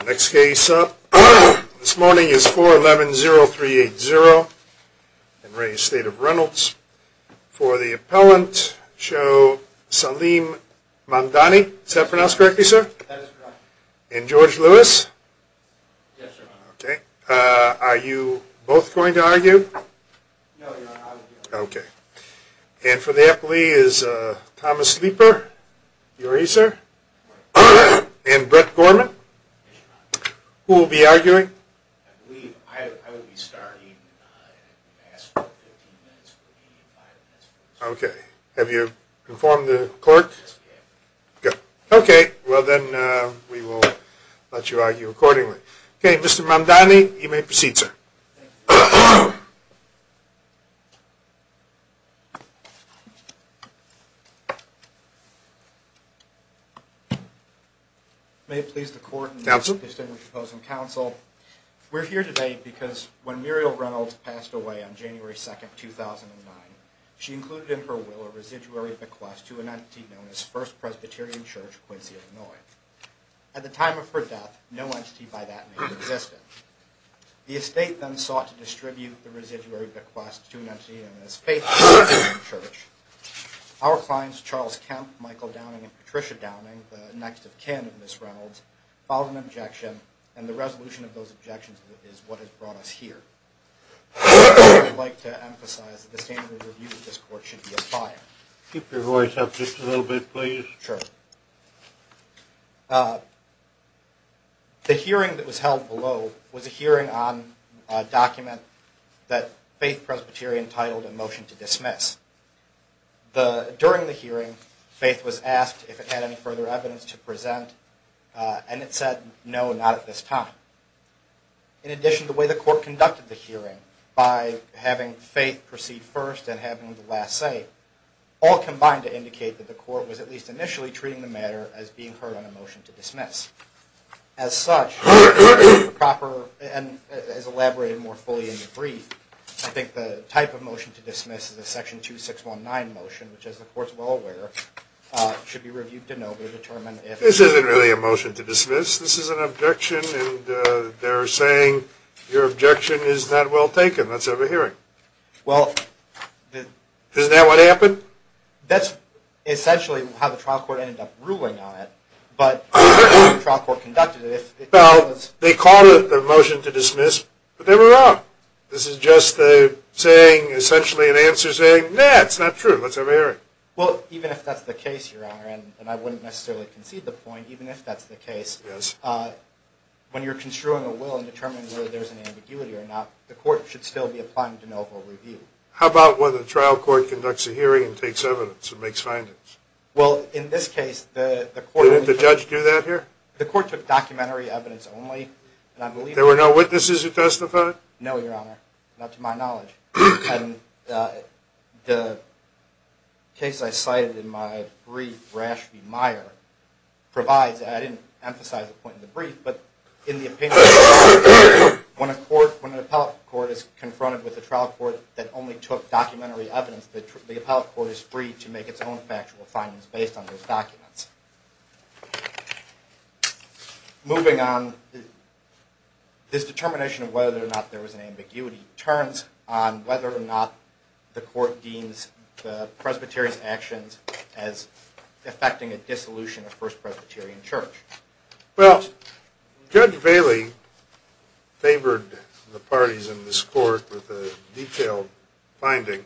The next case up this morning is 4110380 in re Estate of Reynolds. For the appellant show Salim Mandani, is that pronounced correctly, sir? That is correct. And George Lewis? Yes, sir. Okay. Are you both going to argue? No. Okay. And for the appellee is Thomas Leeper. Are you ready, sir? And Brett Gorman? Yes, sir. Who will be arguing? I believe I will be starting in the last 15 minutes. Okay. Have you informed the clerk? Yes, I have. Good. Okay. Well, then we will let you argue accordingly. Okay. Mr. Mandani, you may proceed, sir. Thank you. May it please the court. Counsel. We are here today because when Muriel Reynolds passed away on January 2nd, 2009, she included in her will a residuary bequest to an entity known as First Presbyterian Church, Quincy, Illinois. At the time of her death, no entity by that name existed. The estate then sought to distribute the residuary bequest to an entity known as Faith Presbyterian Church. Our clients, Charles Kemp, Michael Downing, and Patricia Downing, the next of kin of Ms. Reynolds, filed an objection, and the resolution of those objections is what has brought us here. I would like to emphasize that the standard of review of this court should be applied. Keep your voice up just a little bit, please. Sure. The hearing that was held below was a hearing on a document that Faith Presbyterian titled a motion to dismiss. During the hearing, Faith was asked if it had any further evidence to present, and it said no, not at this time. In addition, the way the court conducted the hearing, by having Faith proceed first and having the last say, all combined to indicate that the court was at least initially treating the matter as being heard on a motion to dismiss. As such, as elaborated more fully in the brief, I think the type of motion to dismiss is a section 2619 motion, which, as the court is well aware, should be reviewed to know to determine if... This isn't really a motion to dismiss. This is an objection, and they're saying your objection is not well taken. Let's have a hearing. Well... Isn't that what happened? That's essentially how the trial court ended up ruling on it. Well, they called it a motion to dismiss, but they were wrong. This is just essentially an answer saying, nah, it's not true. Let's have a hearing. Well, even if that's the case, Your Honor, and I wouldn't necessarily concede the point, even if that's the case, when you're construing a will and determining whether there's an ambiguity or not, the court should still be applying to know of a review. How about when the trial court conducts a hearing and takes evidence and makes findings? Well, in this case, the court... Didn't the judge do that here? The court took documentary evidence only, and I believe... There were no witnesses who testified? No, Your Honor, not to my knowledge. And the case I cited in my brief, Rashmi Meyer, provides, and I didn't emphasize the point in the brief, but in the opinion... When an appellate court is confronted with a trial court that only took documentary evidence, the appellate court is free to make its own factual findings based on those documents. Moving on, this determination of whether or not there was an ambiguity turns on whether or not the court deems the Presbyterian's actions as affecting a dissolution of First Presbyterian Church. Well, Judge Bailey favored the parties in this court with a detailed finding,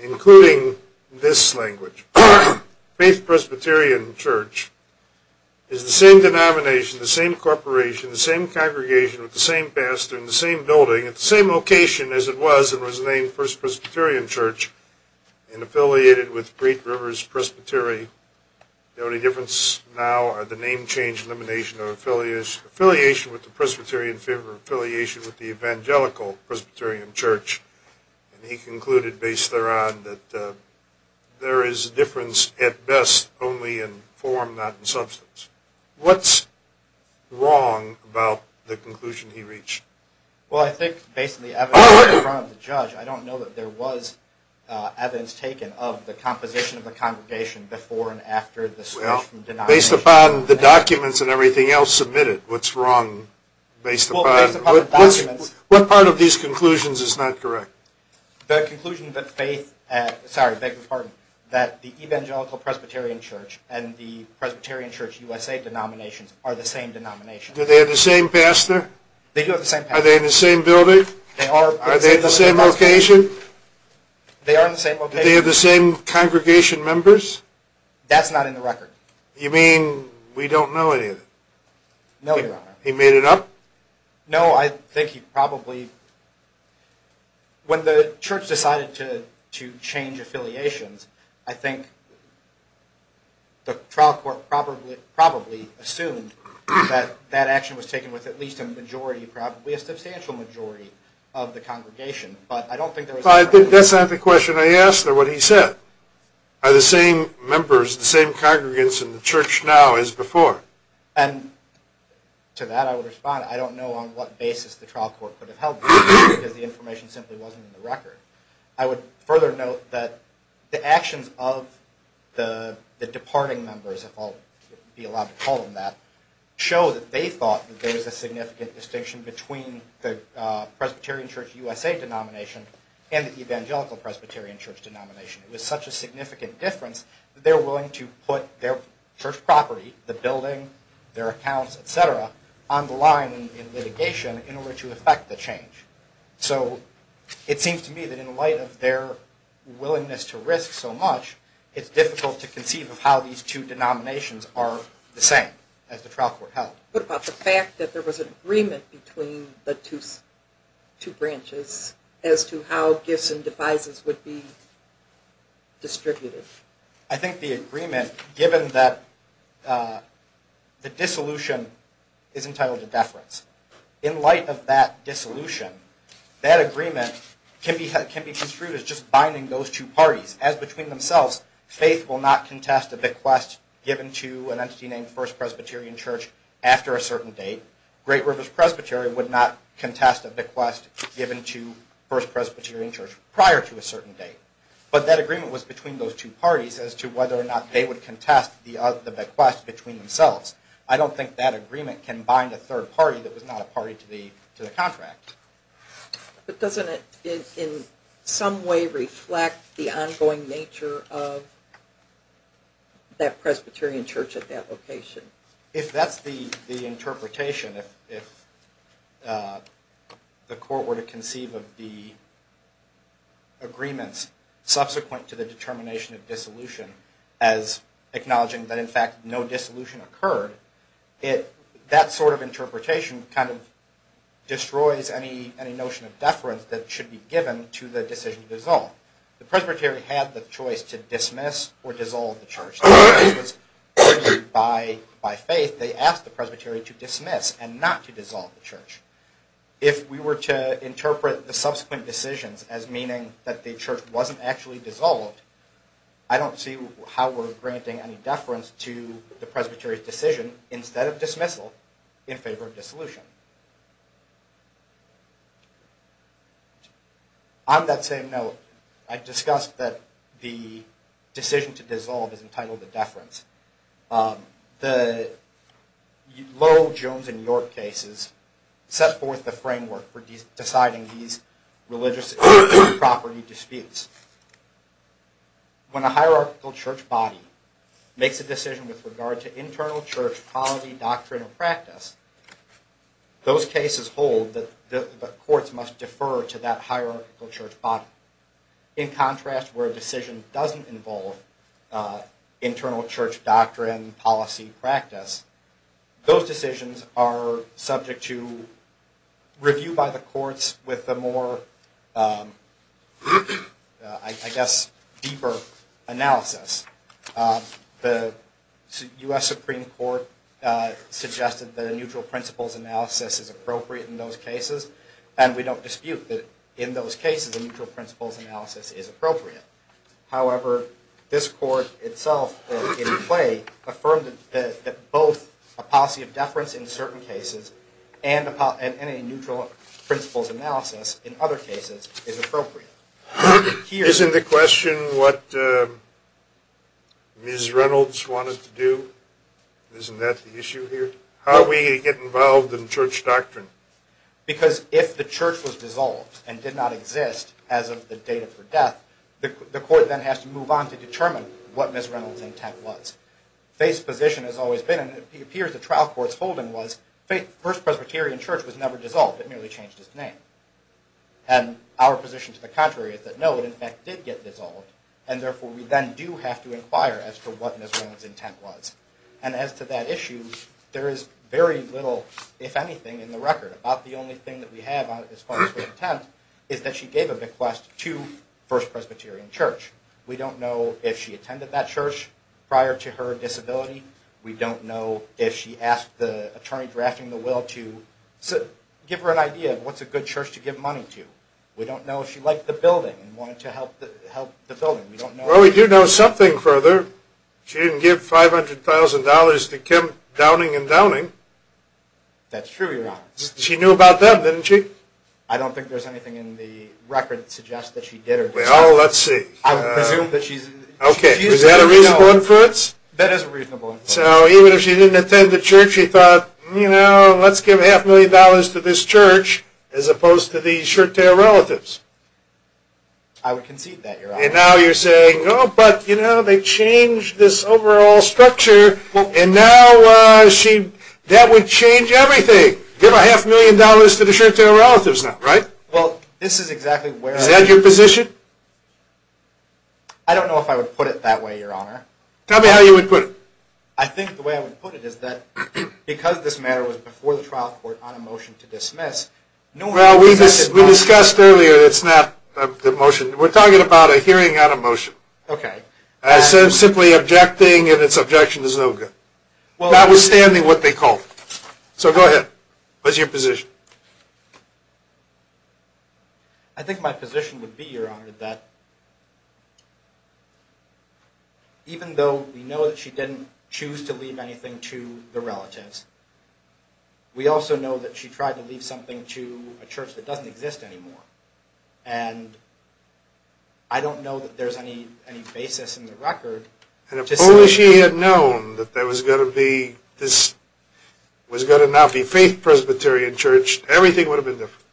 including this language. Faith Presbyterian Church is the same denomination, the same corporation, the same congregation with the same pastor and the same building at the same location as it was and was named First Presbyterian Church and affiliated with Great Rivers Presbytery. The only difference now are the name change, elimination, or affiliation with the Presbyterian faith or affiliation with the Evangelical Presbyterian Church. And he concluded based thereon that there is difference at best only in form, not in substance. What's wrong about the conclusion he reached? Well, I think based on the evidence in front of the judge, I don't know that there was taken of the composition of the congregation before and after the switch from denomination. Based upon the documents and everything else submitted, what's wrong? Based upon the documents. What part of these conclusions is not correct? The conclusion that faith, sorry, beg your pardon, that the Evangelical Presbyterian Church and the Presbyterian Church USA denominations are the same denomination. Do they have the same pastor? They do have the same pastor. Are they in the same building? Are they at the same location? They are in the same location. Do they have the same congregation members? That's not in the record. You mean we don't know any of it? No, Your Honor. He made it up? No, I think he probably, when the church decided to change affiliations, I think the trial court probably assumed that that action was taken with at least a majority, probably a That's not the question I asked or what he said. Are the same members, the same congregants in the church now as before? And to that I would respond, I don't know on what basis the trial court could have held that because the information simply wasn't in the record. I would further note that the actions of the departing members, if I'll be allowed to call them that, show that they thought that there was a significant distinction between the Presbyterian Church USA denomination and the Evangelical Presbyterian Church denomination. It was such a significant difference that they were willing to put their church property, the building, their accounts, et cetera, on the line in litigation in order to effect the change. So it seems to me that in light of their willingness to risk so much, it's difficult to conceive of how these two denominations are the same as the trial court held. What about the fact that there was an agreement between the two branches as to how gifts and devices would be distributed? I think the agreement, given that the dissolution is entitled to deference, in light of that dissolution, that agreement can be construed as just binding those two parties. As between themselves, faith will not contest a bequest given to an entity named First Presbyterian Church after a certain date. Great Rivers Presbytery would not contest a bequest given to First Presbyterian Church prior to a certain date. But that agreement was between those two parties as to whether or not they would contest the bequest between themselves. I don't think that agreement can bind a third party that was not a party to the contract. But doesn't it in some way reflect the ongoing nature of that Presbyterian Church at that location? If that's the interpretation, if the court were to conceive of the agreements subsequent to the determination of dissolution as acknowledging that in fact no dissolution occurred, that sort of interpretation kind of destroys any notion of deference that should be given to the decision to dissolve. The presbytery had the choice to dismiss or dissolve the church. If it was decided by faith, they asked the presbytery to dismiss and not to dissolve the church. If we were to interpret the subsequent decisions as meaning that the church wasn't actually dissolved, I don't see how we're granting any deference to the presbytery's decision instead of dismissal in favor of dissolution. On that same note, I discussed that the decision to dissolve is entitled a deference. The Lowell, Jones, and York cases set forth the framework for deciding these religious property disputes. When a hierarchical church body makes a decision with regard to internal church policy, doctrine, or practice, those cases hold that the courts must defer to that hierarchical church body. In contrast, where a decision doesn't involve internal church doctrine, policy, practice, those decisions are subject to review by the courts with a more, I guess, deeper analysis. The U.S. Supreme Court suggested that a neutral principles analysis is appropriate in those cases, and we don't dispute that in those cases a neutral principles analysis is appropriate. However, this court itself, in play, affirmed that both a policy of deference in certain cases and a neutral principles analysis in other cases is appropriate. Isn't the question what Ms. Reynolds wanted to do? Isn't that the issue here? How are we going to get involved in church doctrine? Because if the church was dissolved and did not exist as of the date of her death, the court then has to move on to determine what Ms. Reynolds' intent was. Faith's position has always been, and it appears the trial court's holding was, First Presbyterian Church was never dissolved. It merely changed its name. And our position to the contrary is that no, it in fact did get dissolved, and therefore we then do have to inquire as to what Ms. Reynolds' intent was. And as to that issue, there is very little, if anything, in the record about the only thing that we have as far as her intent is that she gave a bequest to First Presbyterian Church. We don't know if she attended that church prior to her disability. We don't know if she asked the attorney drafting the will to give her an idea of what's a good church to give money to. We don't know if she liked the building and wanted to help the building. Well, we do know something further. She didn't give $500,000 to Kemp Downing and Downing. That's true, Your Honor. She knew about them, didn't she? I don't think there's anything in the record that suggests that she did or did not. Well, let's see. I would presume that she's... Okay, is that a reasonable inference? That is a reasonable inference. So even if she didn't attend the church, she thought, you know, let's give half a million dollars to this church as opposed to these shirt-tail relatives. I would concede that, Your Honor. And now you're saying, oh, but, you know, they changed this overall structure, and now she... That would change everything. Give a half million dollars to the shirt-tail relatives now, right? Well, this is exactly where... Is that your position? I don't know if I would put it that way, Your Honor. Tell me how you would put it. I think the way I would put it is that because this matter was before the trial court on a motion to dismiss... Well, we discussed earlier that it's not the motion... We're talking about a hearing on a motion. Okay. As simply objecting and its objection is no good. Well... Notwithstanding what they called it. So go ahead. What's your position? I think my position would be, Your Honor, that even though we know that she didn't choose to leave anything to the relatives, we also know that she tried to leave something to a church that doesn't exist anymore, and I don't know that there's any basis in the record to say... And if only she had known that there was going to be this... There was going to not be faith presbytery in church, everything would have been different.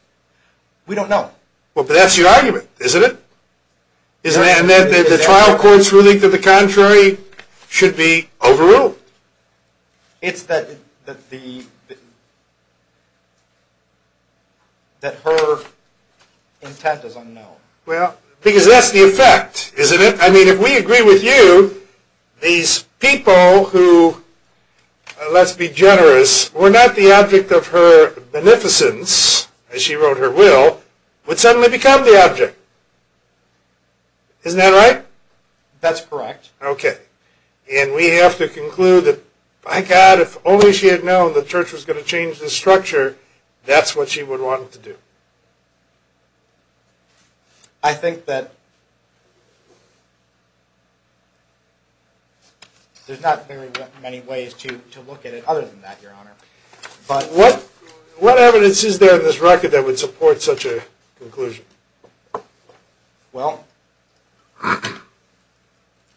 We don't know. Well, but that's your argument, isn't it? Isn't it? And that the trial court's ruling to the contrary should be overruled. It's that her intent is unknown. Well, because that's the effect, isn't it? I mean, if we agree with you, these people who, let's be generous, were not the object of her beneficence, as she wrote her will, would suddenly become the object. Isn't that right? That's correct. Okay. And we have to conclude that, by God, if only she had known the church was going to change this structure, that's what she would want it to do. I think that there's not very many ways to look at it other than that, Your Honor. But... What evidence is there in this record that would support such a conclusion? Well,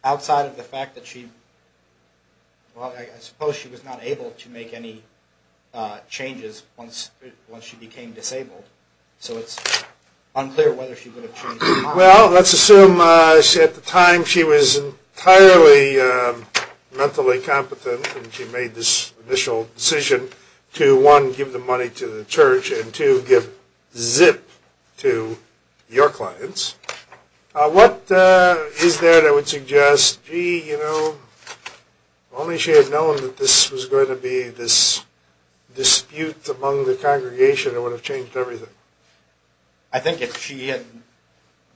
outside of the fact that she... Well, I suppose she was not able to make any changes once she became disabled. So it's unclear whether she would have changed her mind. Well, let's assume at the time she was entirely mentally competent and she made this initial decision to, one, give the money to the church, and two, give zip to your clients. What is there that would suggest, gee, you know, if only she had known that this was going to be this dispute among the congregation, it would have changed everything? I think if she had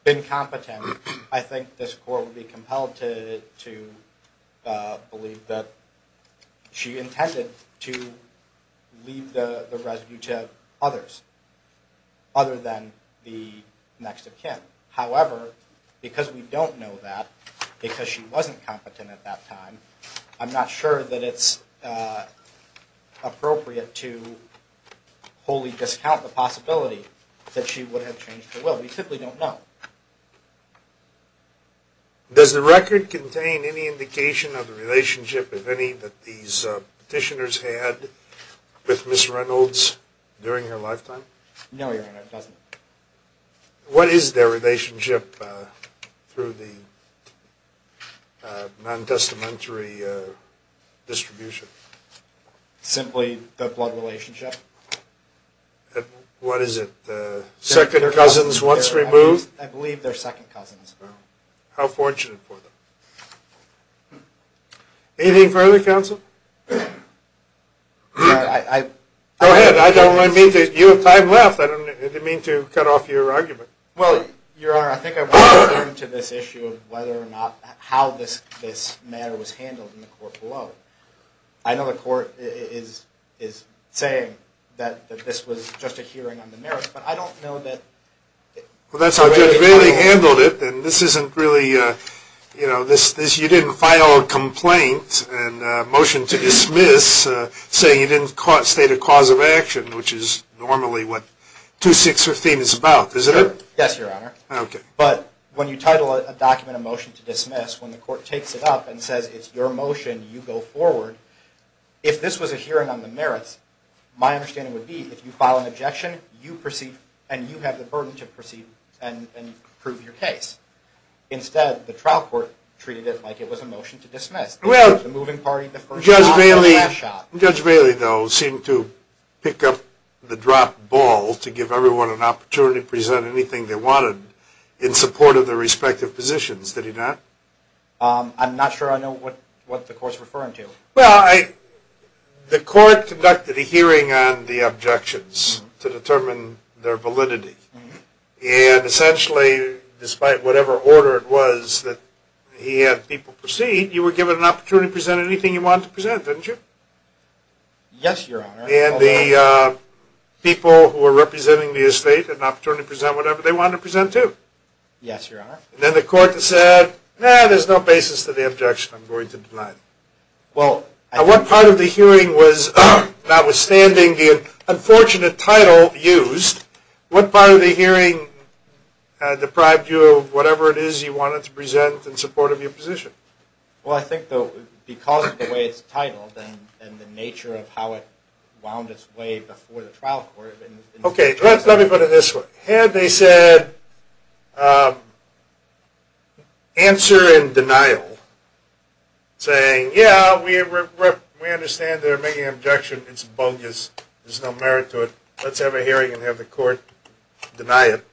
been competent, I think this Court would be compelled to believe that she intended to leave the residue to others other than the next of kin. However, because we don't know that, because she wasn't competent at that time, I'm not sure that it's appropriate to wholly discount the possibility that she would have changed her will. We simply don't know. Does the record contain any indication of the relationship, if any, that these petitioners had with Ms. Reynolds during her lifetime? No, Your Honor, it doesn't. What is their relationship through the non-testamentary distribution? Simply the blood relationship. What is it? Second cousins once removed? I believe they're second cousins. How fortunate for them. Anything further, Counsel? Your Honor, I... Go ahead. You have time left. I didn't mean to cut off your argument. Well, Your Honor, I think I want to get into this issue of whether or not, how this matter was handled in the court below. I know the court is saying that this was just a hearing on the merits, but I don't know that... Well, that's how Judge Bailey handled it, and this isn't really... You didn't file a complaint and a motion to dismiss saying you didn't state a cause of action, which is normally what 2615 is about, is it? Yes, Your Honor. Okay. But when you title a document a motion to dismiss, when the court takes it up and says it's your motion, you go forward. If this was a hearing on the merits, my understanding would be if you file an objection, you proceed and you have the burden to proceed and prove your case. Instead, the trial court treated it like it was a motion to dismiss. Well, Judge Bailey, though, seemed to pick up the dropped ball to give everyone an opportunity to present anything they wanted in support of their respective positions. Did he not? I'm not sure I know what the court's referring to. Well, the court conducted a hearing on the objections to determine their validity, and essentially, despite whatever order it was that he had people proceed, you were given an opportunity to present anything you wanted to present, didn't you? Yes, Your Honor. And the people who were representing the estate had an opportunity to present whatever they wanted to present, too? Yes, Your Honor. And then the court said, eh, there's no basis to the objection. I'm going to deny it. Now, what part of the hearing was, notwithstanding the unfortunate title used, what part of the hearing deprived you of whatever it is you wanted to present in support of your position? Well, I think, though, because of the way it's titled and the nature of how it wound its way before the trial court. Okay, let me put it this way. Had they said, answer in denial, saying, yeah, we understand they're making an objection. It's bogus. There's no merit to it. Let's have a hearing and have the court deny it.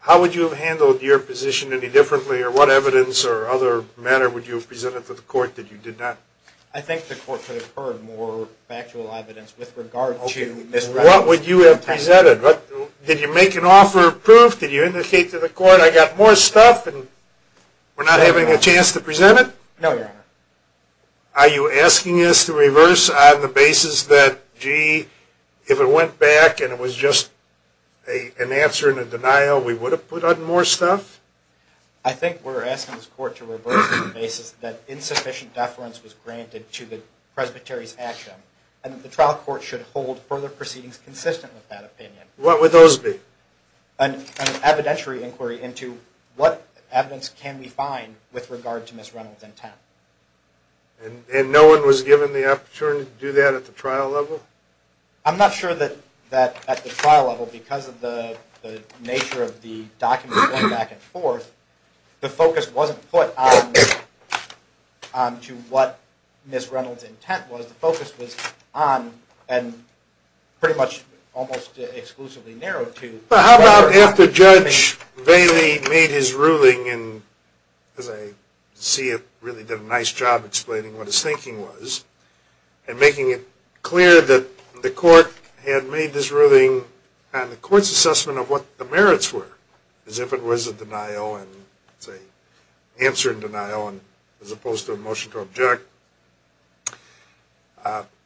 How would you have handled your position any differently, or what evidence or other matter would you have presented to the court that you did not? I think the court could have heard more factual evidence with regard to misrepresentation. What would you have presented? Did you make an offer of proof? Did you indicate to the court, I got more stuff, and we're not having a chance to present it? No, Your Honor. Are you asking us to reverse on the basis that, gee, if it went back and it was just an answer in a denial, we would have put on more stuff? I think we're asking this court to reverse on the basis that insufficient deference was granted to the presbytery's action, and that the trial court should hold further proceedings consistent with that opinion. What would those be? An evidentiary inquiry into what evidence can we find with regard to Ms. Reynolds' intent. And no one was given the opportunity to do that at the trial level? I'm not sure that at the trial level, because of the nature of the documents going back and forth, the focus wasn't put on to what Ms. Reynolds' intent was. The focus was on, and pretty much almost exclusively narrowed to... How about after Judge Bailey made his ruling, and as I see it, really did a nice job explaining what his thinking was, and making it clear that the court had made this ruling on the court's assessment of what the merits were, as if it was a denial, an answer in denial, as opposed to a motion to object.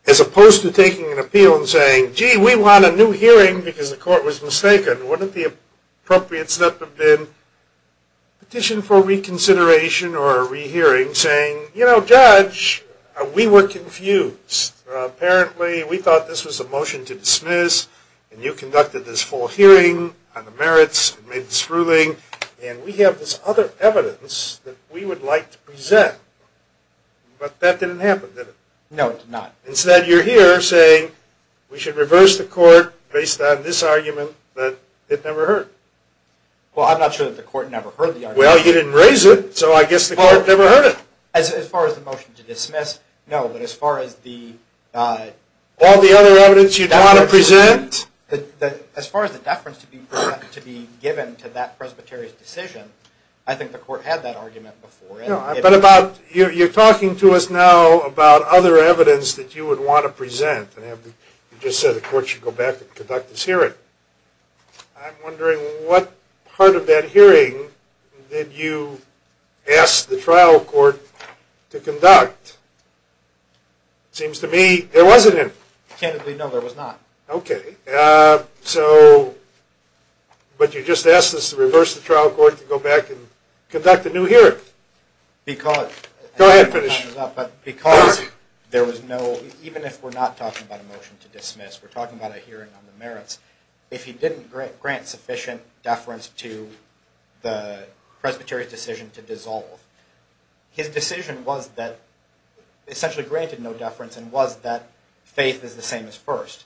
As opposed to taking an appeal and saying, gee, we want a new hearing because the court was mistaken. Wouldn't the appropriate step have been petition for reconsideration or a rehearing, saying, you know, Judge, we were confused. Apparently, we thought this was a motion to dismiss, and you conducted this full hearing on the merits and made this ruling, and we have this other evidence that we would like to present, but that didn't happen, did it? No, it did not. Instead, you're here saying, we should reverse the court based on this argument that it never heard. Well, I'm not sure that the court never heard the argument. Well, you didn't raise it, so I guess the court never heard it. As far as the motion to dismiss, no, but as far as the... All the other evidence you'd want to present? As far as the deference to be given to that presbyterian's decision, I think the court never had that argument before. No, but about... You're talking to us now about other evidence that you would want to present, and you just said the court should go back and conduct this hearing. I'm wondering what part of that hearing did you ask the trial court to conduct? It seems to me there wasn't any. Candidly, no, there was not. Okay. But you just asked us to reverse the trial court to go back and conduct a new hearing. Because... Go ahead, finish. Because there was no... Even if we're not talking about a motion to dismiss, we're talking about a hearing on the merits. If he didn't grant sufficient deference to the presbyterian's decision to dissolve, his decision was that... Essentially granted no deference, and was that faith is the same as first.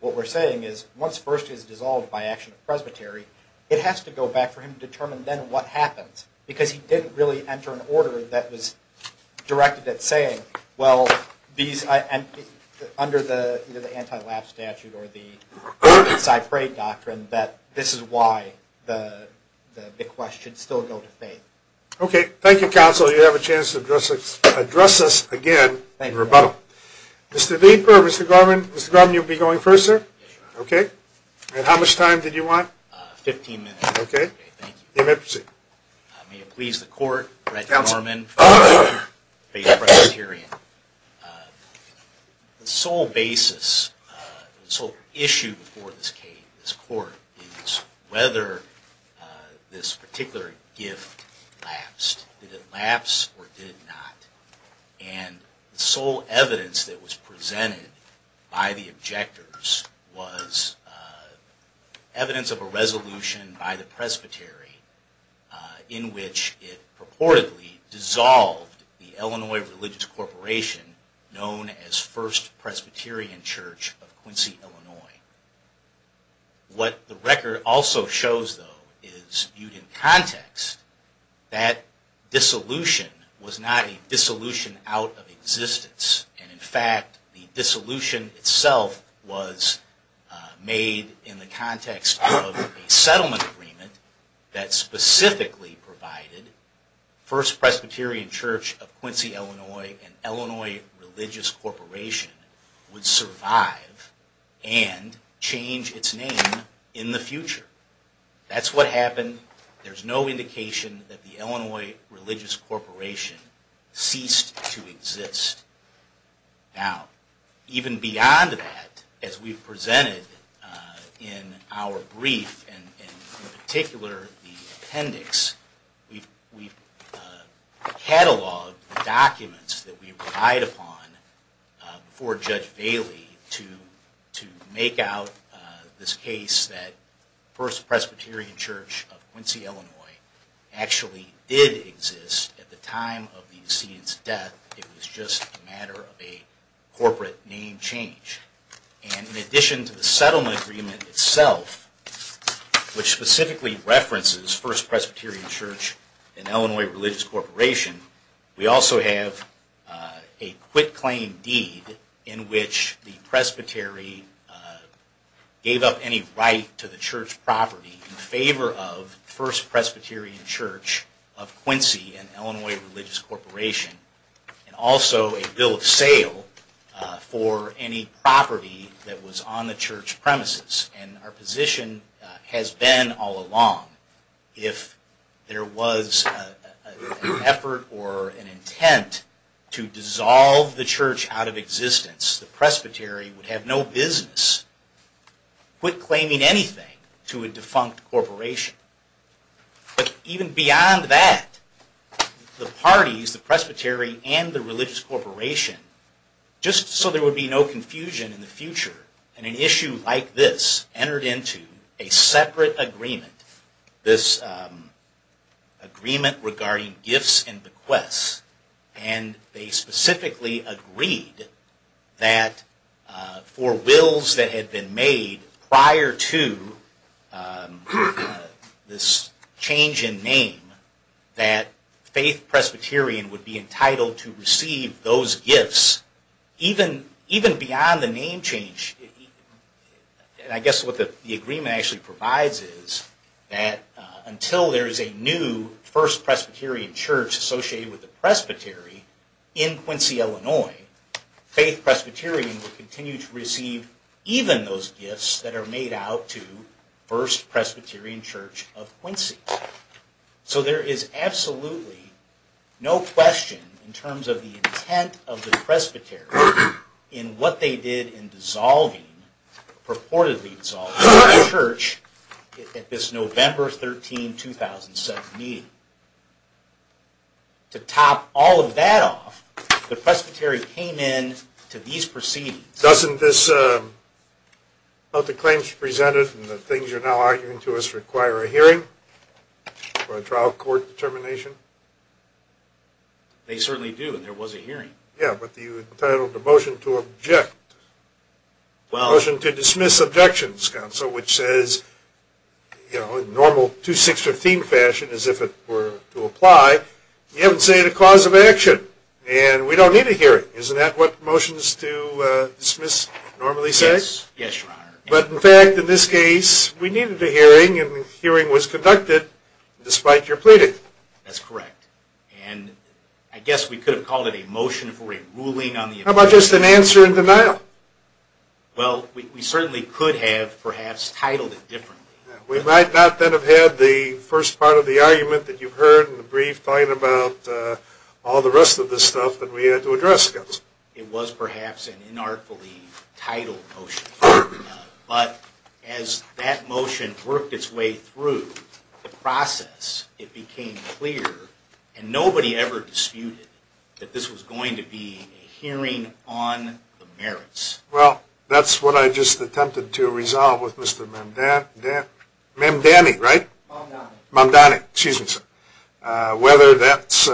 What we're saying is once first is dissolved by action of presbytery, it has to go back for him to determine then what happens. Because he didn't really enter an order that was directed at saying, well, under the anti-lapse statute or the ordinance I pray doctrine, that this is why the question should still go to faith. Okay. Thank you, counsel. Thank you. Chief Burr, Mr. Gorman. Mr. Gorman, you'll be going first, sir? Yes, Your Honor. Okay. And how much time did you want? Fifteen minutes. Okay. Thank you. You may proceed. May it please the court, Brett Gorman... Counsel. ...faith presbyterian. The sole basis, the sole issue before this case, this court, is whether this particular gift lapsed. Did it lapse or did it not? And the sole evidence that was presented by the objectors was evidence of a resolution by the presbytery in which it purportedly dissolved the Illinois Religious Corporation known as First Presbyterian Church of Quincy, Illinois. What the record also shows, though, is viewed in context that dissolution was not a dissolution out of existence. And in fact, the dissolution itself was made in the context of a settlement agreement that specifically provided First Presbyterian Church of Quincy, Illinois and Illinois Religious Corporation would survive and change its name in the future. That's what happened. There's no indication that the Illinois Religious Corporation ceased to exist. Now, even beyond that, as we've presented in our brief and in particular the appendix, we've cataloged the documents that we relied upon before Judge Bailey to make out this case that First Presbyterian Church of Quincy, Illinois actually did exist at the time of the decedent's death. It was just a matter of a corporate name change. And in addition to the settlement agreement itself, which specifically references First Presbyterian Church and Illinois Religious Corporation, we also have a quitclaim deed in which the presbytery gave up any right to the church property in favor of First Presbyterian Church of Quincy and Illinois Religious Corporation, and also a bill of sale for any property that was on the church premises. And our position has been all along, if there was an effort or an intent to dissolve the church out of existence, the presbytery would have no business quitclaiming anything to a defunct corporation. But even beyond that, the parties, the presbytery and the religious corporation, just so there would be no confusion in the future, an issue like this entered into a separate agreement, this agreement regarding gifts and bequests. And they specifically agreed that for wills that had been made prior to this change in that faith Presbyterian would be entitled to receive those gifts. Even beyond the name change, I guess what the agreement actually provides is that until there is a new First Presbyterian Church associated with the presbytery in Quincy, Illinois, faith Presbyterian will continue to receive even those gifts that are made out to First Presbyterian. So there is absolutely no question in terms of the intent of the presbytery in what they did in dissolving, purportedly dissolving, the church at this November 13, 2007 meeting. To top all of that off, the presbytery came in to these proceedings. Doesn't this, about the claims presented and the things you're now arguing to us, require a hearing for a trial court determination? They certainly do, and there was a hearing. Yeah, but you entitled the motion to object. Motion to dismiss objections, counsel, which says, you know, in normal 2-6-15 fashion, as if it were to apply, you haven't stated a cause of action. And we don't need a hearing. Isn't that what motions to dismiss normally say? Yes, Your Honor. But in fact, in this case, we needed a hearing, and the hearing was conducted, despite your pleading. That's correct. And I guess we could have called it a motion for a ruling on the objection. How about just an answer in denial? Well, we certainly could have, perhaps, titled it differently. We might not then have had the first part of the argument that you've heard in the brief talking about all the rest of the stuff that we had to address, counsel. It was perhaps an inartfully titled motion. But as that motion worked its way through the process, it became clear, and nobody ever disputed that this was going to be a hearing on the merits. Well, that's what I just attempted to resolve with Mr. Mamdani, right? Mamdani. Mamdani. Excuse me, sir. Whether that's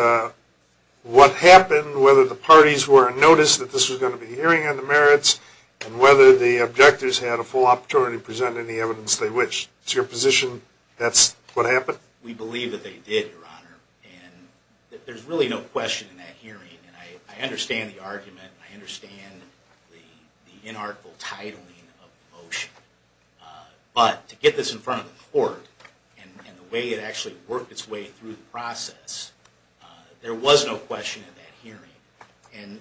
what happened, whether the parties were in notice that this was going to be a hearing on the merits, and whether the objectors had a full opportunity to present any evidence they wished. It's your position that's what happened? We believe that they did, Your Honor. And there's really no question in that hearing. And I understand the argument. I understand the inartful titling of the motion. But to get this in front of the court and the way it actually worked its way through the process, there was no question in that hearing. And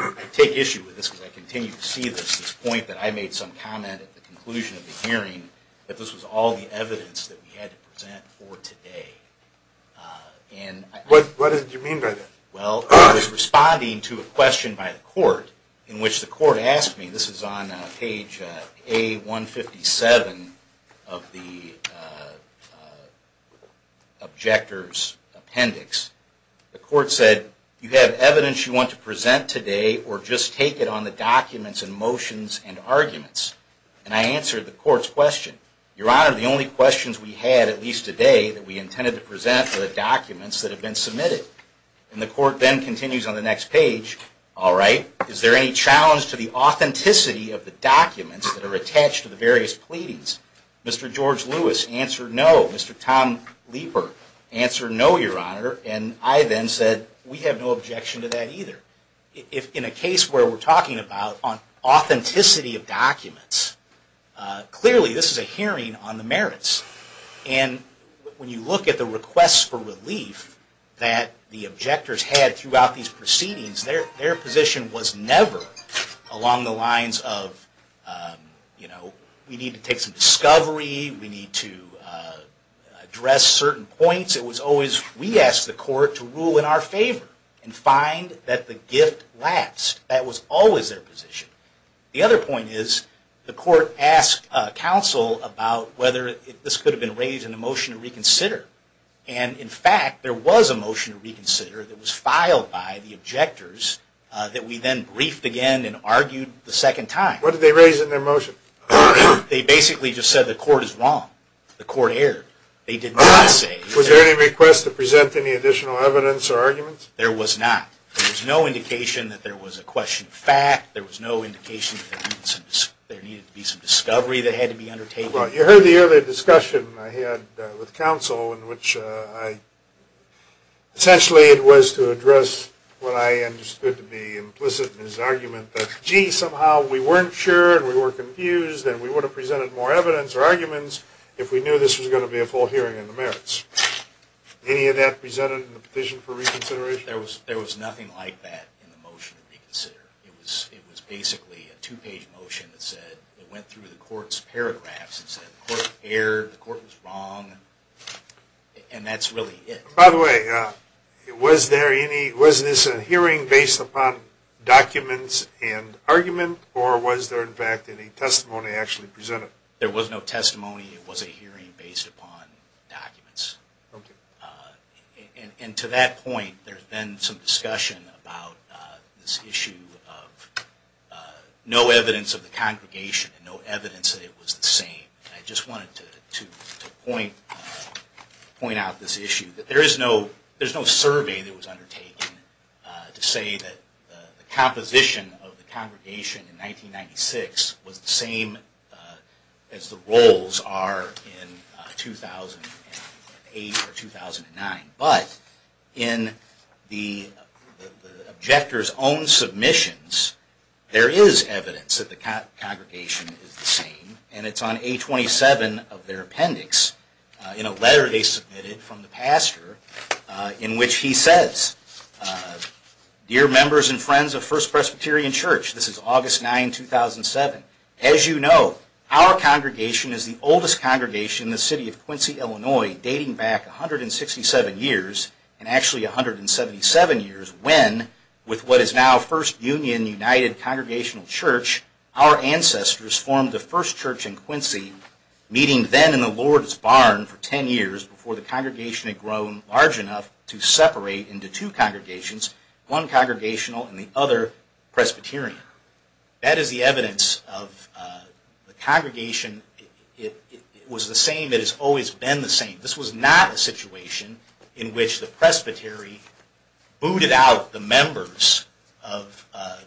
I take issue with this because I continue to see this, this point that I made some comment at the conclusion of the hearing, that this was all the evidence that we had to present for today. What did you mean by that? Well, I was responding to a question by the court in which the court asked me, and this is on page A157 of the objector's appendix. The court said, you have evidence you want to present today, or just take it on the documents and motions and arguments. And I answered the court's question. Your Honor, the only questions we had, at least today, that we intended to present were the documents that had been submitted. And the court then continues on the next page. Is there any challenge to the authenticity of the documents that are attached to the various pleadings? Mr. George Lewis answered no. Mr. Tom Leeper answered no, Your Honor. And I then said, we have no objection to that either. In a case where we're talking about authenticity of documents, clearly this is a hearing on the merits. And when you look at the requests for relief that the objectors had throughout these proceedings, their position was never along the lines of, you know, we need to take some discovery, we need to address certain points. It was always, we asked the court to rule in our favor and find that the gift lapsed. That was always their position. The other point is, the court asked counsel about whether this could have been raised in a motion to reconsider. And, in fact, there was a motion to reconsider that was filed by the objectors that we then briefed again and argued the second time. What did they raise in their motion? They basically just said the court is wrong. The court erred. They did not say. Was there any request to present any additional evidence or arguments? There was not. There was no indication that there was a question of fact. There was no indication that there needed to be some discovery that had to be undertaken. Well, you heard the earlier discussion I had with counsel in which I, essentially it was to address what I understood to be implicit in his argument that, gee, somehow we weren't sure and we were confused and we would have presented more evidence or arguments if we knew this was going to be a full hearing on the merits. Any of that presented in the petition for reconsideration? There was nothing like that in the motion to reconsider. It was basically a two-page motion that said it went through the court's paragraphs and said the court erred, the court was wrong, and that's really it. By the way, was this a hearing based upon documents and argument, or was there, in fact, any testimony actually presented? There was no testimony. It was a hearing based upon documents. And to that point, there's been some discussion about this issue of no evidence of the congregation and no evidence that it was the same. I just wanted to point out this issue. There is no survey that was undertaken to say that the composition of the congregation in 1996 was the same as the roles are in 2008 or 2009. But in the objector's own submissions, there is evidence that the congregation is the same, and it's on A27 of their appendix in a letter they submitted from the pastor in which he says, Dear members and friends of First Presbyterian Church, this is August 9, 2007. As you know, our congregation is the oldest congregation in the city of Quincy, Illinois, dating back 167 years, and actually 177 years, when, with what is now First Union United Congregational Church, our ancestors formed the first church in Quincy, meeting then in the Lord's Barn for 10 years before the congregation had grown large enough to separate into two congregations, one congregational and the other Presbyterian. That is the evidence of the congregation. It was the same. It has always been the same. This was not a situation in which the presbytery booted out the members of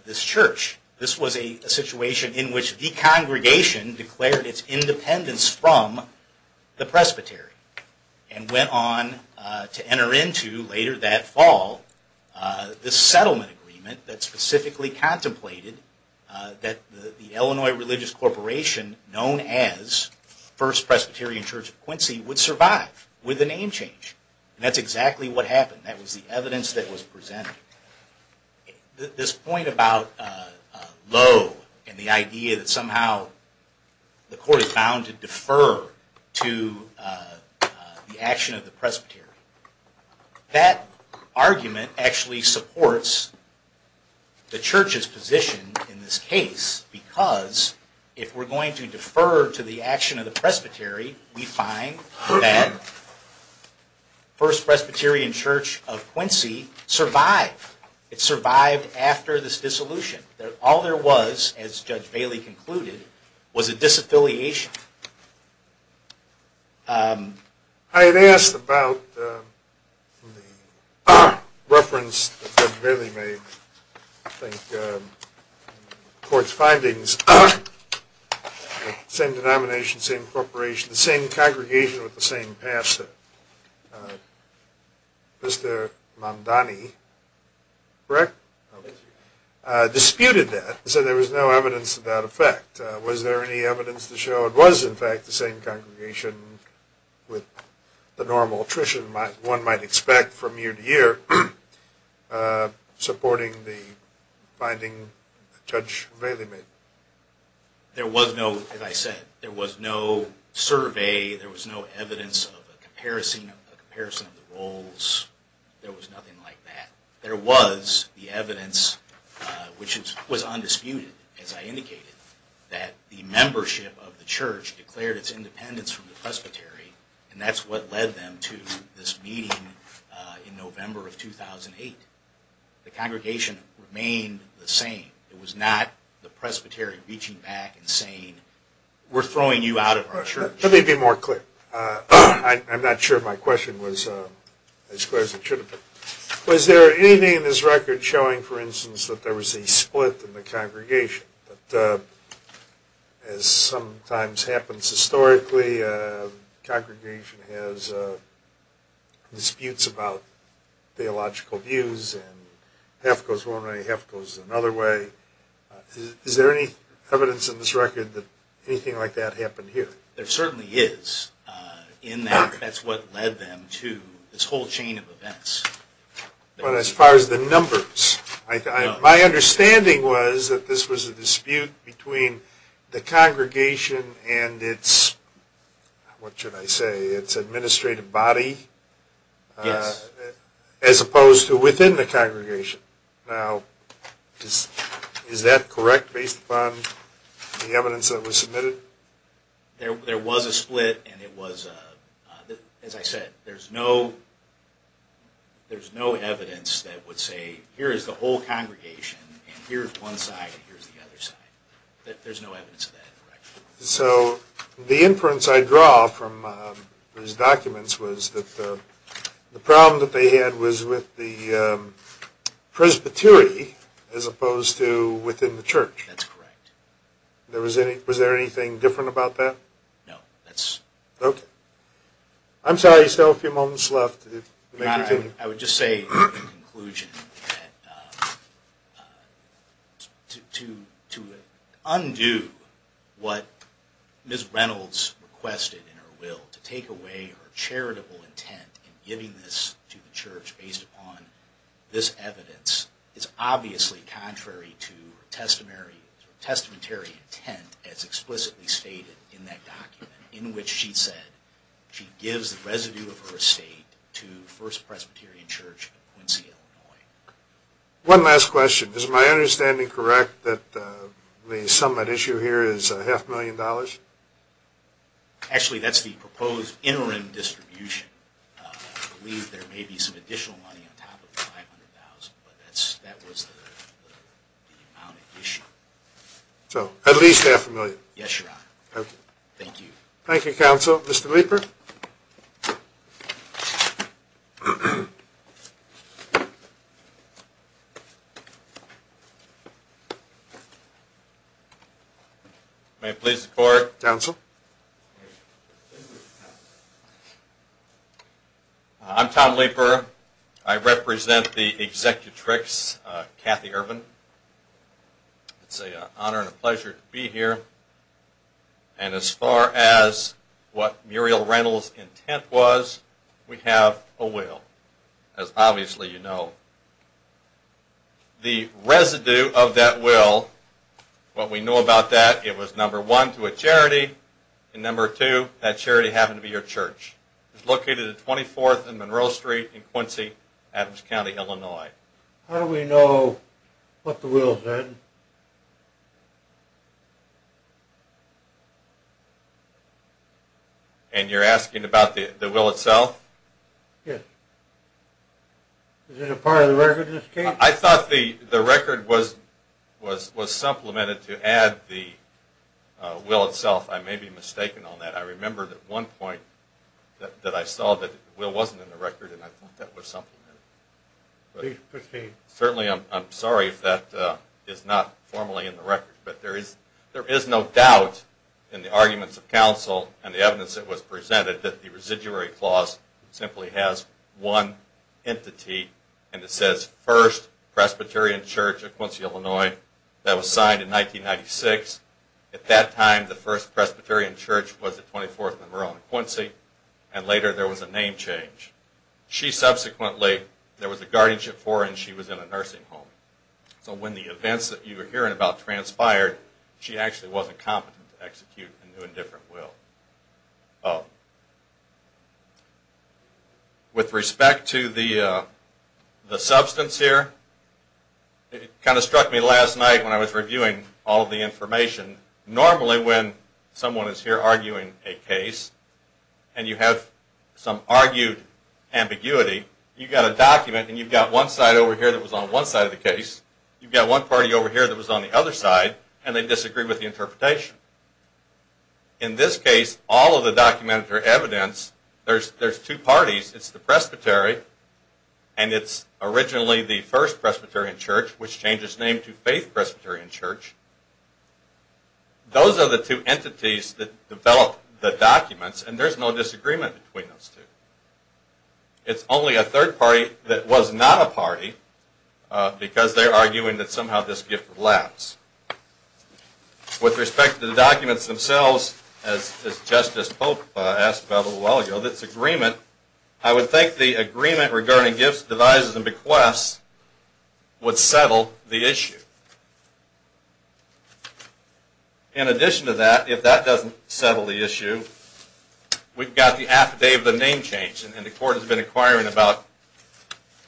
this church. This was a situation in which the congregation declared its independence from the presbytery and went on to enter into, later that fall, this settlement agreement that specifically contemplated that the Illinois Religious Corporation, known as First Presbyterian Church of Quincy, would survive with a name change. That's exactly what happened. That was the evidence that was presented. This point about Lowe and the idea that somehow the court is bound to defer to the action of the presbytery, that argument actually supports the church's position in this case, because if we're going to defer to the action of the presbytery, we find that First Presbyterian Church of Quincy survived. It survived after this dissolution. All there was, as Judge Bailey concluded, was a disaffiliation. I had asked about the reference that Judge Bailey made, I think, in the court's findings, the same denomination, same corporation, the same congregation with the same pastor. Mr. Mondani, correct? Disputed that and said there was no evidence of that effect. Was there any evidence to show it was, in fact, the same congregation with the normal attrition one might expect from year to year, supporting the finding that Judge Bailey made? There was no, as I said, there was no survey, there was no evidence of a comparison of the roles. There was nothing like that. There was the evidence, which was undisputed, as I indicated, that the membership of the church declared its independence from the presbytery, and that's what led them to this meeting in November of 2008. The congregation remained the same. It was not the presbytery reaching back and saying, we're throwing you out of our church. Let me be more clear. I'm not sure if my question was as clear as it should have been. Was there anything in this record showing, for instance, that there was a split in the congregation? As sometimes happens historically, a congregation has disputes about theological views, and half goes one way, half goes another way. Is there any evidence in this record that anything like that happened here? There certainly is, in that that's what led them to this whole chain of events. But as far as the numbers, my understanding was that this was a dispute between the congregation and its, what should I say, its administrative body, as opposed to within the congregation. Now, is that correct, based upon the evidence that was submitted? There was a split, and it was, as I said, there's no evidence that would say, here is the whole congregation, and here's one side, and here's the other side. There's no evidence of that. So, the inference I draw from these documents was that the problem that they had was with the Presbytery, as opposed to within the church. That's correct. Was there anything different about that? No. Okay. I'm sorry, you still have a few moments left. I would just say, in conclusion, that to undo what Ms. Reynolds requested in her will, to take away her charitable intent in giving this to the church, based upon this evidence, is obviously contrary to her testamentary intent, as explicitly stated in that document, in which she said she gives the residue of her estate to First Presbyterian Church in Quincy, Illinois. One last question. Is my understanding correct that the summit issue here is half a million dollars? Actually, that's the proposed interim distribution. I believe there may be some additional money on top of the $500,000, but that was the amount at issue. So, at least half a million? Yes, Your Honor. Thank you. Thank you, Counsel. Mr. Leeper? May it please the Court? Counsel? I'm Tom Leeper. I represent the Executrix, Kathy Ervin. It's an honor and a pleasure to be here. And as far as what Muriel Reynolds' intent was, we have a will. As obviously you know, the residue of that will, what we know about that, it was, number one, to a charity, and number two, that charity happened to be your church. It's located at 24th and Monroe Street in Quincy, Adams County, Illinois. How do we know what the will said? And you're asking about the will itself? Yes. Is it a part of the record in this case? I thought the record was supplemented to add the will itself. I may be mistaken on that. I remember at one point that I saw that the will wasn't in the record, and I thought that was supplemented. Certainly, I'm sorry if that is not formally in the record. But there is no doubt in the arguments of counsel and the evidence that was presented that the Residuary Clause simply has one entity, and it says, First Presbyterian Church of Quincy, Illinois. That was signed in 1996. At that time, the First Presbyterian Church was at 24th and Monroe in Quincy, and later there was a name change. She subsequently, there was a guardianship for her, and she was in a nursing home. So when the events that you were hearing about transpired, she actually wasn't competent to execute a new and different will. With respect to the substance here, it kind of struck me last night when I was reviewing all of the information. Normally, when someone is here arguing a case, and you have some argued ambiguity, you've got a document, and you've got one side over here that was on one side of the case. You've got one party over here that was on the other side, and they disagree with the interpretation. In this case, all of the documented evidence, there's two parties. It's the Presbytery, and it's originally the First Presbyterian Church, which changed its name to Faith Presbyterian Church. Those are the two entities that developed the documents, and there's no disagreement between those two. It's only a third party that was not a party, because they're arguing that somehow this gift lapsed. With respect to the documents themselves, as Justice Pope asked about a little while ago, this agreement, I would think the agreement regarding gifts, devices, and bequests would settle the issue. In addition to that, if that doesn't settle the issue, we've got the Affidavit of Name Change, and the Court has been inquiring about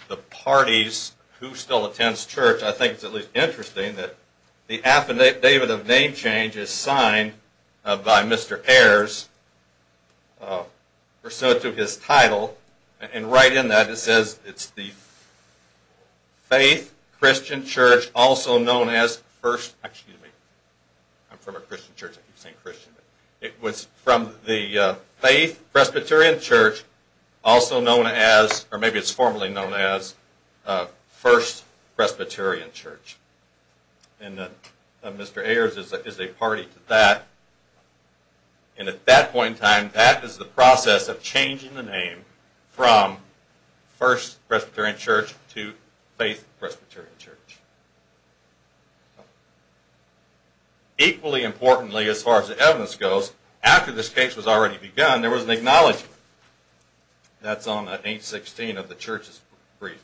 the parties who still attends church. I think it's at least interesting that the Affidavit of Name Change is signed by Mr. Ayers, pursuant to his title, and right in that it says it's the Faith Christian Church, also known as First... Excuse me. I'm from a Christian church. I keep saying Christian. It was from the Faith Presbyterian Church, also known as, or maybe it's formally known as First Presbyterian Church. And Mr. Ayers is a party to that. And at that point in time, that is the process of changing the name from First Presbyterian Church to Faith Presbyterian Church. Equally importantly, as far as the evidence goes, after this case was already begun, there was an acknowledgement. That's on page 16 of the Church's brief.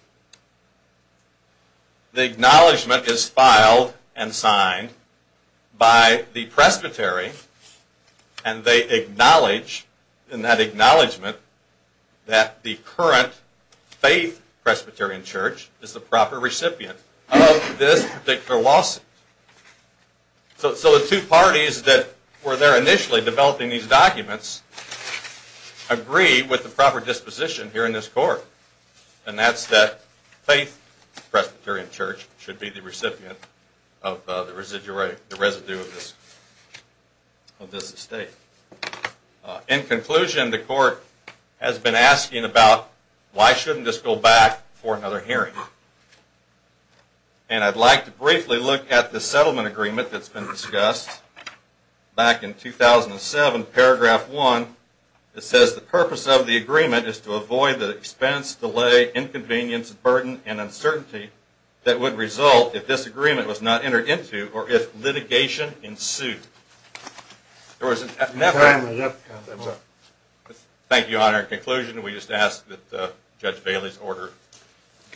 The acknowledgement is filed and signed by the presbytery, and they acknowledge, in that acknowledgement, that the current Faith Presbyterian Church is the proper recipient of this particular lawsuit. So the two parties that were there initially developing these documents agree with the proper disposition here in this Court. And that's that Faith Presbyterian Church should be the recipient of the residue of this estate. In conclusion, the Court has been asking about why shouldn't this go back for another hearing? And I'd like to briefly look at the settlement agreement that's been discussed back in 2007, paragraph 1. It says the purpose of the agreement is to avoid the expense, delay, inconvenience, burden, and uncertainty that would result if this agreement was not entered into or if litigation ensued. There was never... Thank you, Your Honor. In conclusion, we just ask that Judge Bailey's order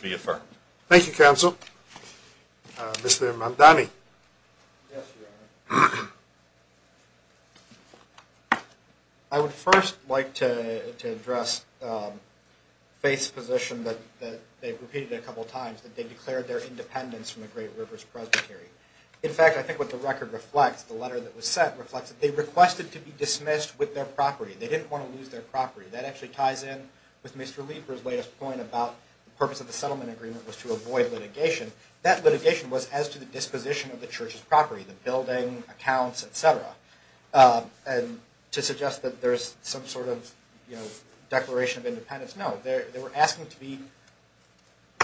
be affirmed. Thank you, Counsel. Mr. Mondani. Yes, Your Honor. I would first like to address Faith's position that they've repeated a couple times, that they declared their independence from the Great Rivers Presbytery. In fact, I think what the record reflects, the letter that was sent reflects that they requested to be dismissed with their property. They didn't want to lose their property. That actually ties in with Mr. Lieber's latest point about the purpose of the settlement agreement was to avoid litigation. That litigation was as to the disposition of the church's property, the building, accounts, et cetera, and to suggest that there's some sort of declaration of independence. No, they were asking to be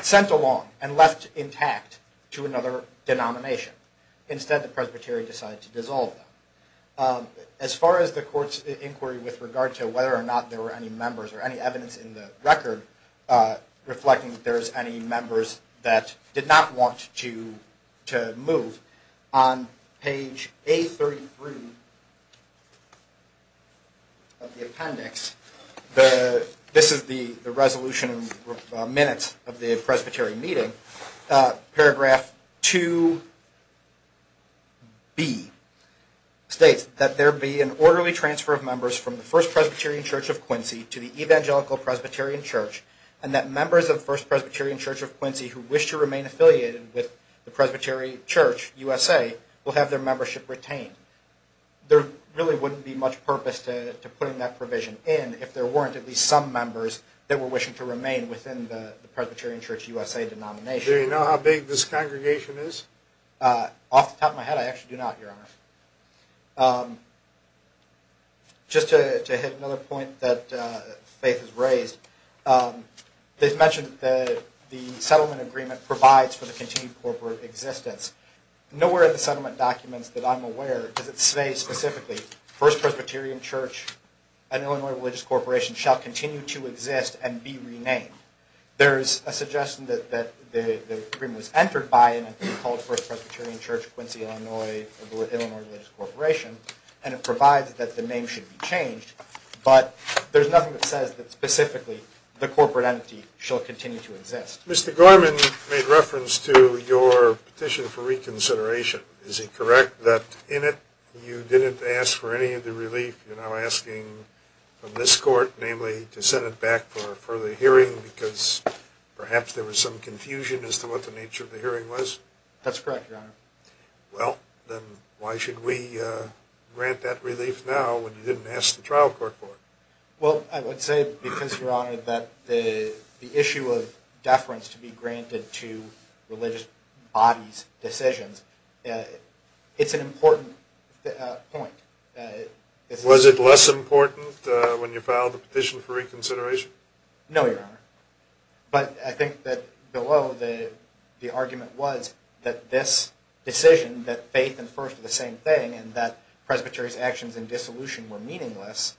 sent along and left intact to another denomination. Instead, the presbytery decided to dissolve them. As far as the court's inquiry with regard to whether or not there were any members or any evidence in the record reflecting that there's any members that did not want to move, on page A33 of the appendix, this is the resolution minutes of the presbytery meeting, paragraph 2B states that there be an orderly transfer of members from the First Presbyterian Church of Quincy to the Evangelical Presbyterian Church, and that members of First Presbyterian Church of Quincy who wish to remain affiliated with the Presbytery Church USA will have their membership retained. There really wouldn't be much purpose to putting that provision in if there weren't at least some members that were wishing to remain within the Presbyterian Church USA denomination. Do you know how big this congregation is? Off the top of my head, I actually do not, Your Honor. Just to hit another point that Faith has raised, they've mentioned that the settlement agreement provides for the continued corporate existence. Nowhere in the settlement documents that I'm aware does it say specifically, First Presbyterian Church and Illinois Religious Corporation shall continue to exist and be renamed. There's a suggestion that the agreement was entered by an entity called First Presbyterian Church, Quincy, Illinois, Illinois Religious Corporation, and it provides that the name should be changed, but there's nothing that says that specifically the corporate entity shall continue to exist. Mr. Gorman made reference to your petition for reconsideration. Is it correct that in it you didn't ask for any of the relief you're now asking from this court, namely to send it back for a further hearing because perhaps there was some confusion as to what the nature of the hearing was? That's correct, Your Honor. Well, then why should we grant that relief now when you didn't ask the trial court for it? Well, I would say because, Your Honor, that the issue of deference to be granted to religious bodies' decisions, it's an important point. Was it less important when you filed the petition for reconsideration? No, Your Honor. But I think that below the argument was that this decision, that faith and first are the same thing and that presbytery's actions in dissolution were meaningless,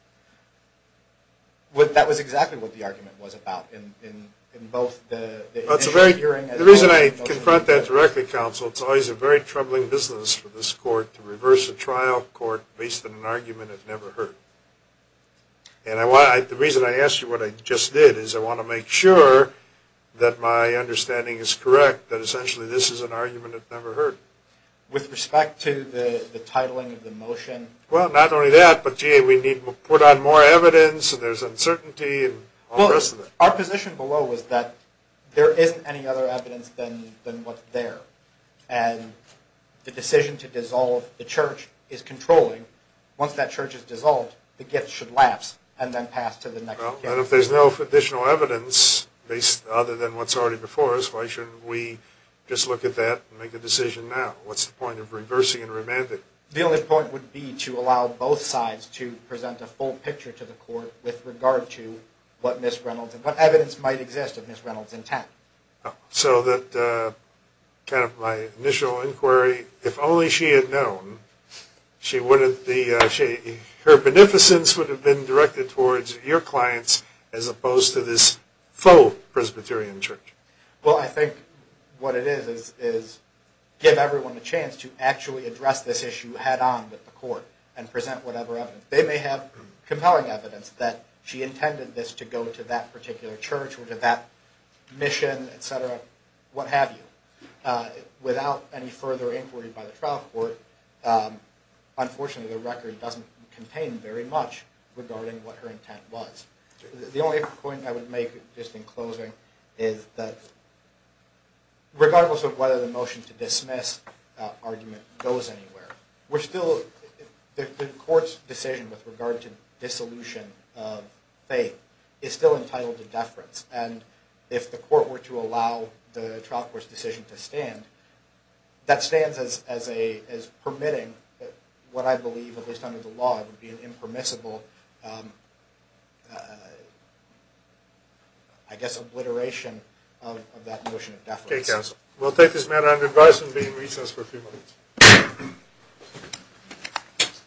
that was exactly what the argument was about in both the issue of the hearing as well as… The reason I confront that directly, Counsel, it's always a very troubling business for this court to reverse a trial court based on an argument it never heard. And the reason I asked you what I just did is I want to make sure that my understanding is correct, that essentially this is an argument it never heard. With respect to the titling of the motion? Well, not only that, but gee, we need to put on more evidence and there's uncertainty and all the rest of it. Our position below is that there isn't any other evidence than what's there. And the decision to dissolve the church is controlling. Once that church is dissolved, the gift should lapse and then pass to the next case. Well, then if there's no additional evidence other than what's already before us, why shouldn't we just look at that and make a decision now? What's the point of reversing and remanding? The only point would be to allow both sides to present a full picture to the court with regard to what Miss Reynolds and what evidence might exist of Miss Reynolds' intent. So that kind of my initial inquiry, if only she had known, her beneficence would have been directed towards your clients as opposed to this faux-Presbyterian church. Well, I think what it is is give everyone a chance to actually address this issue head-on with the court and present whatever evidence. They may have compelling evidence that she intended this to go to that particular church or to that mission, et cetera, what have you. Without any further inquiry by the trial court, unfortunately the record doesn't contain very much regarding what her intent was. The only point I would make, just in closing, is that regardless of whether the motion to dismiss argument goes anywhere, the court's decision with regard to dissolution of faith is still entitled to deference. And if the court were to allow the trial court's decision to stand, that stands as permitting what I believe, at least under the law, would be an impermissible, I guess, obliteration of that motion of deference. Okay, counsel. We'll take this matter under advisement and be in recess for a few minutes.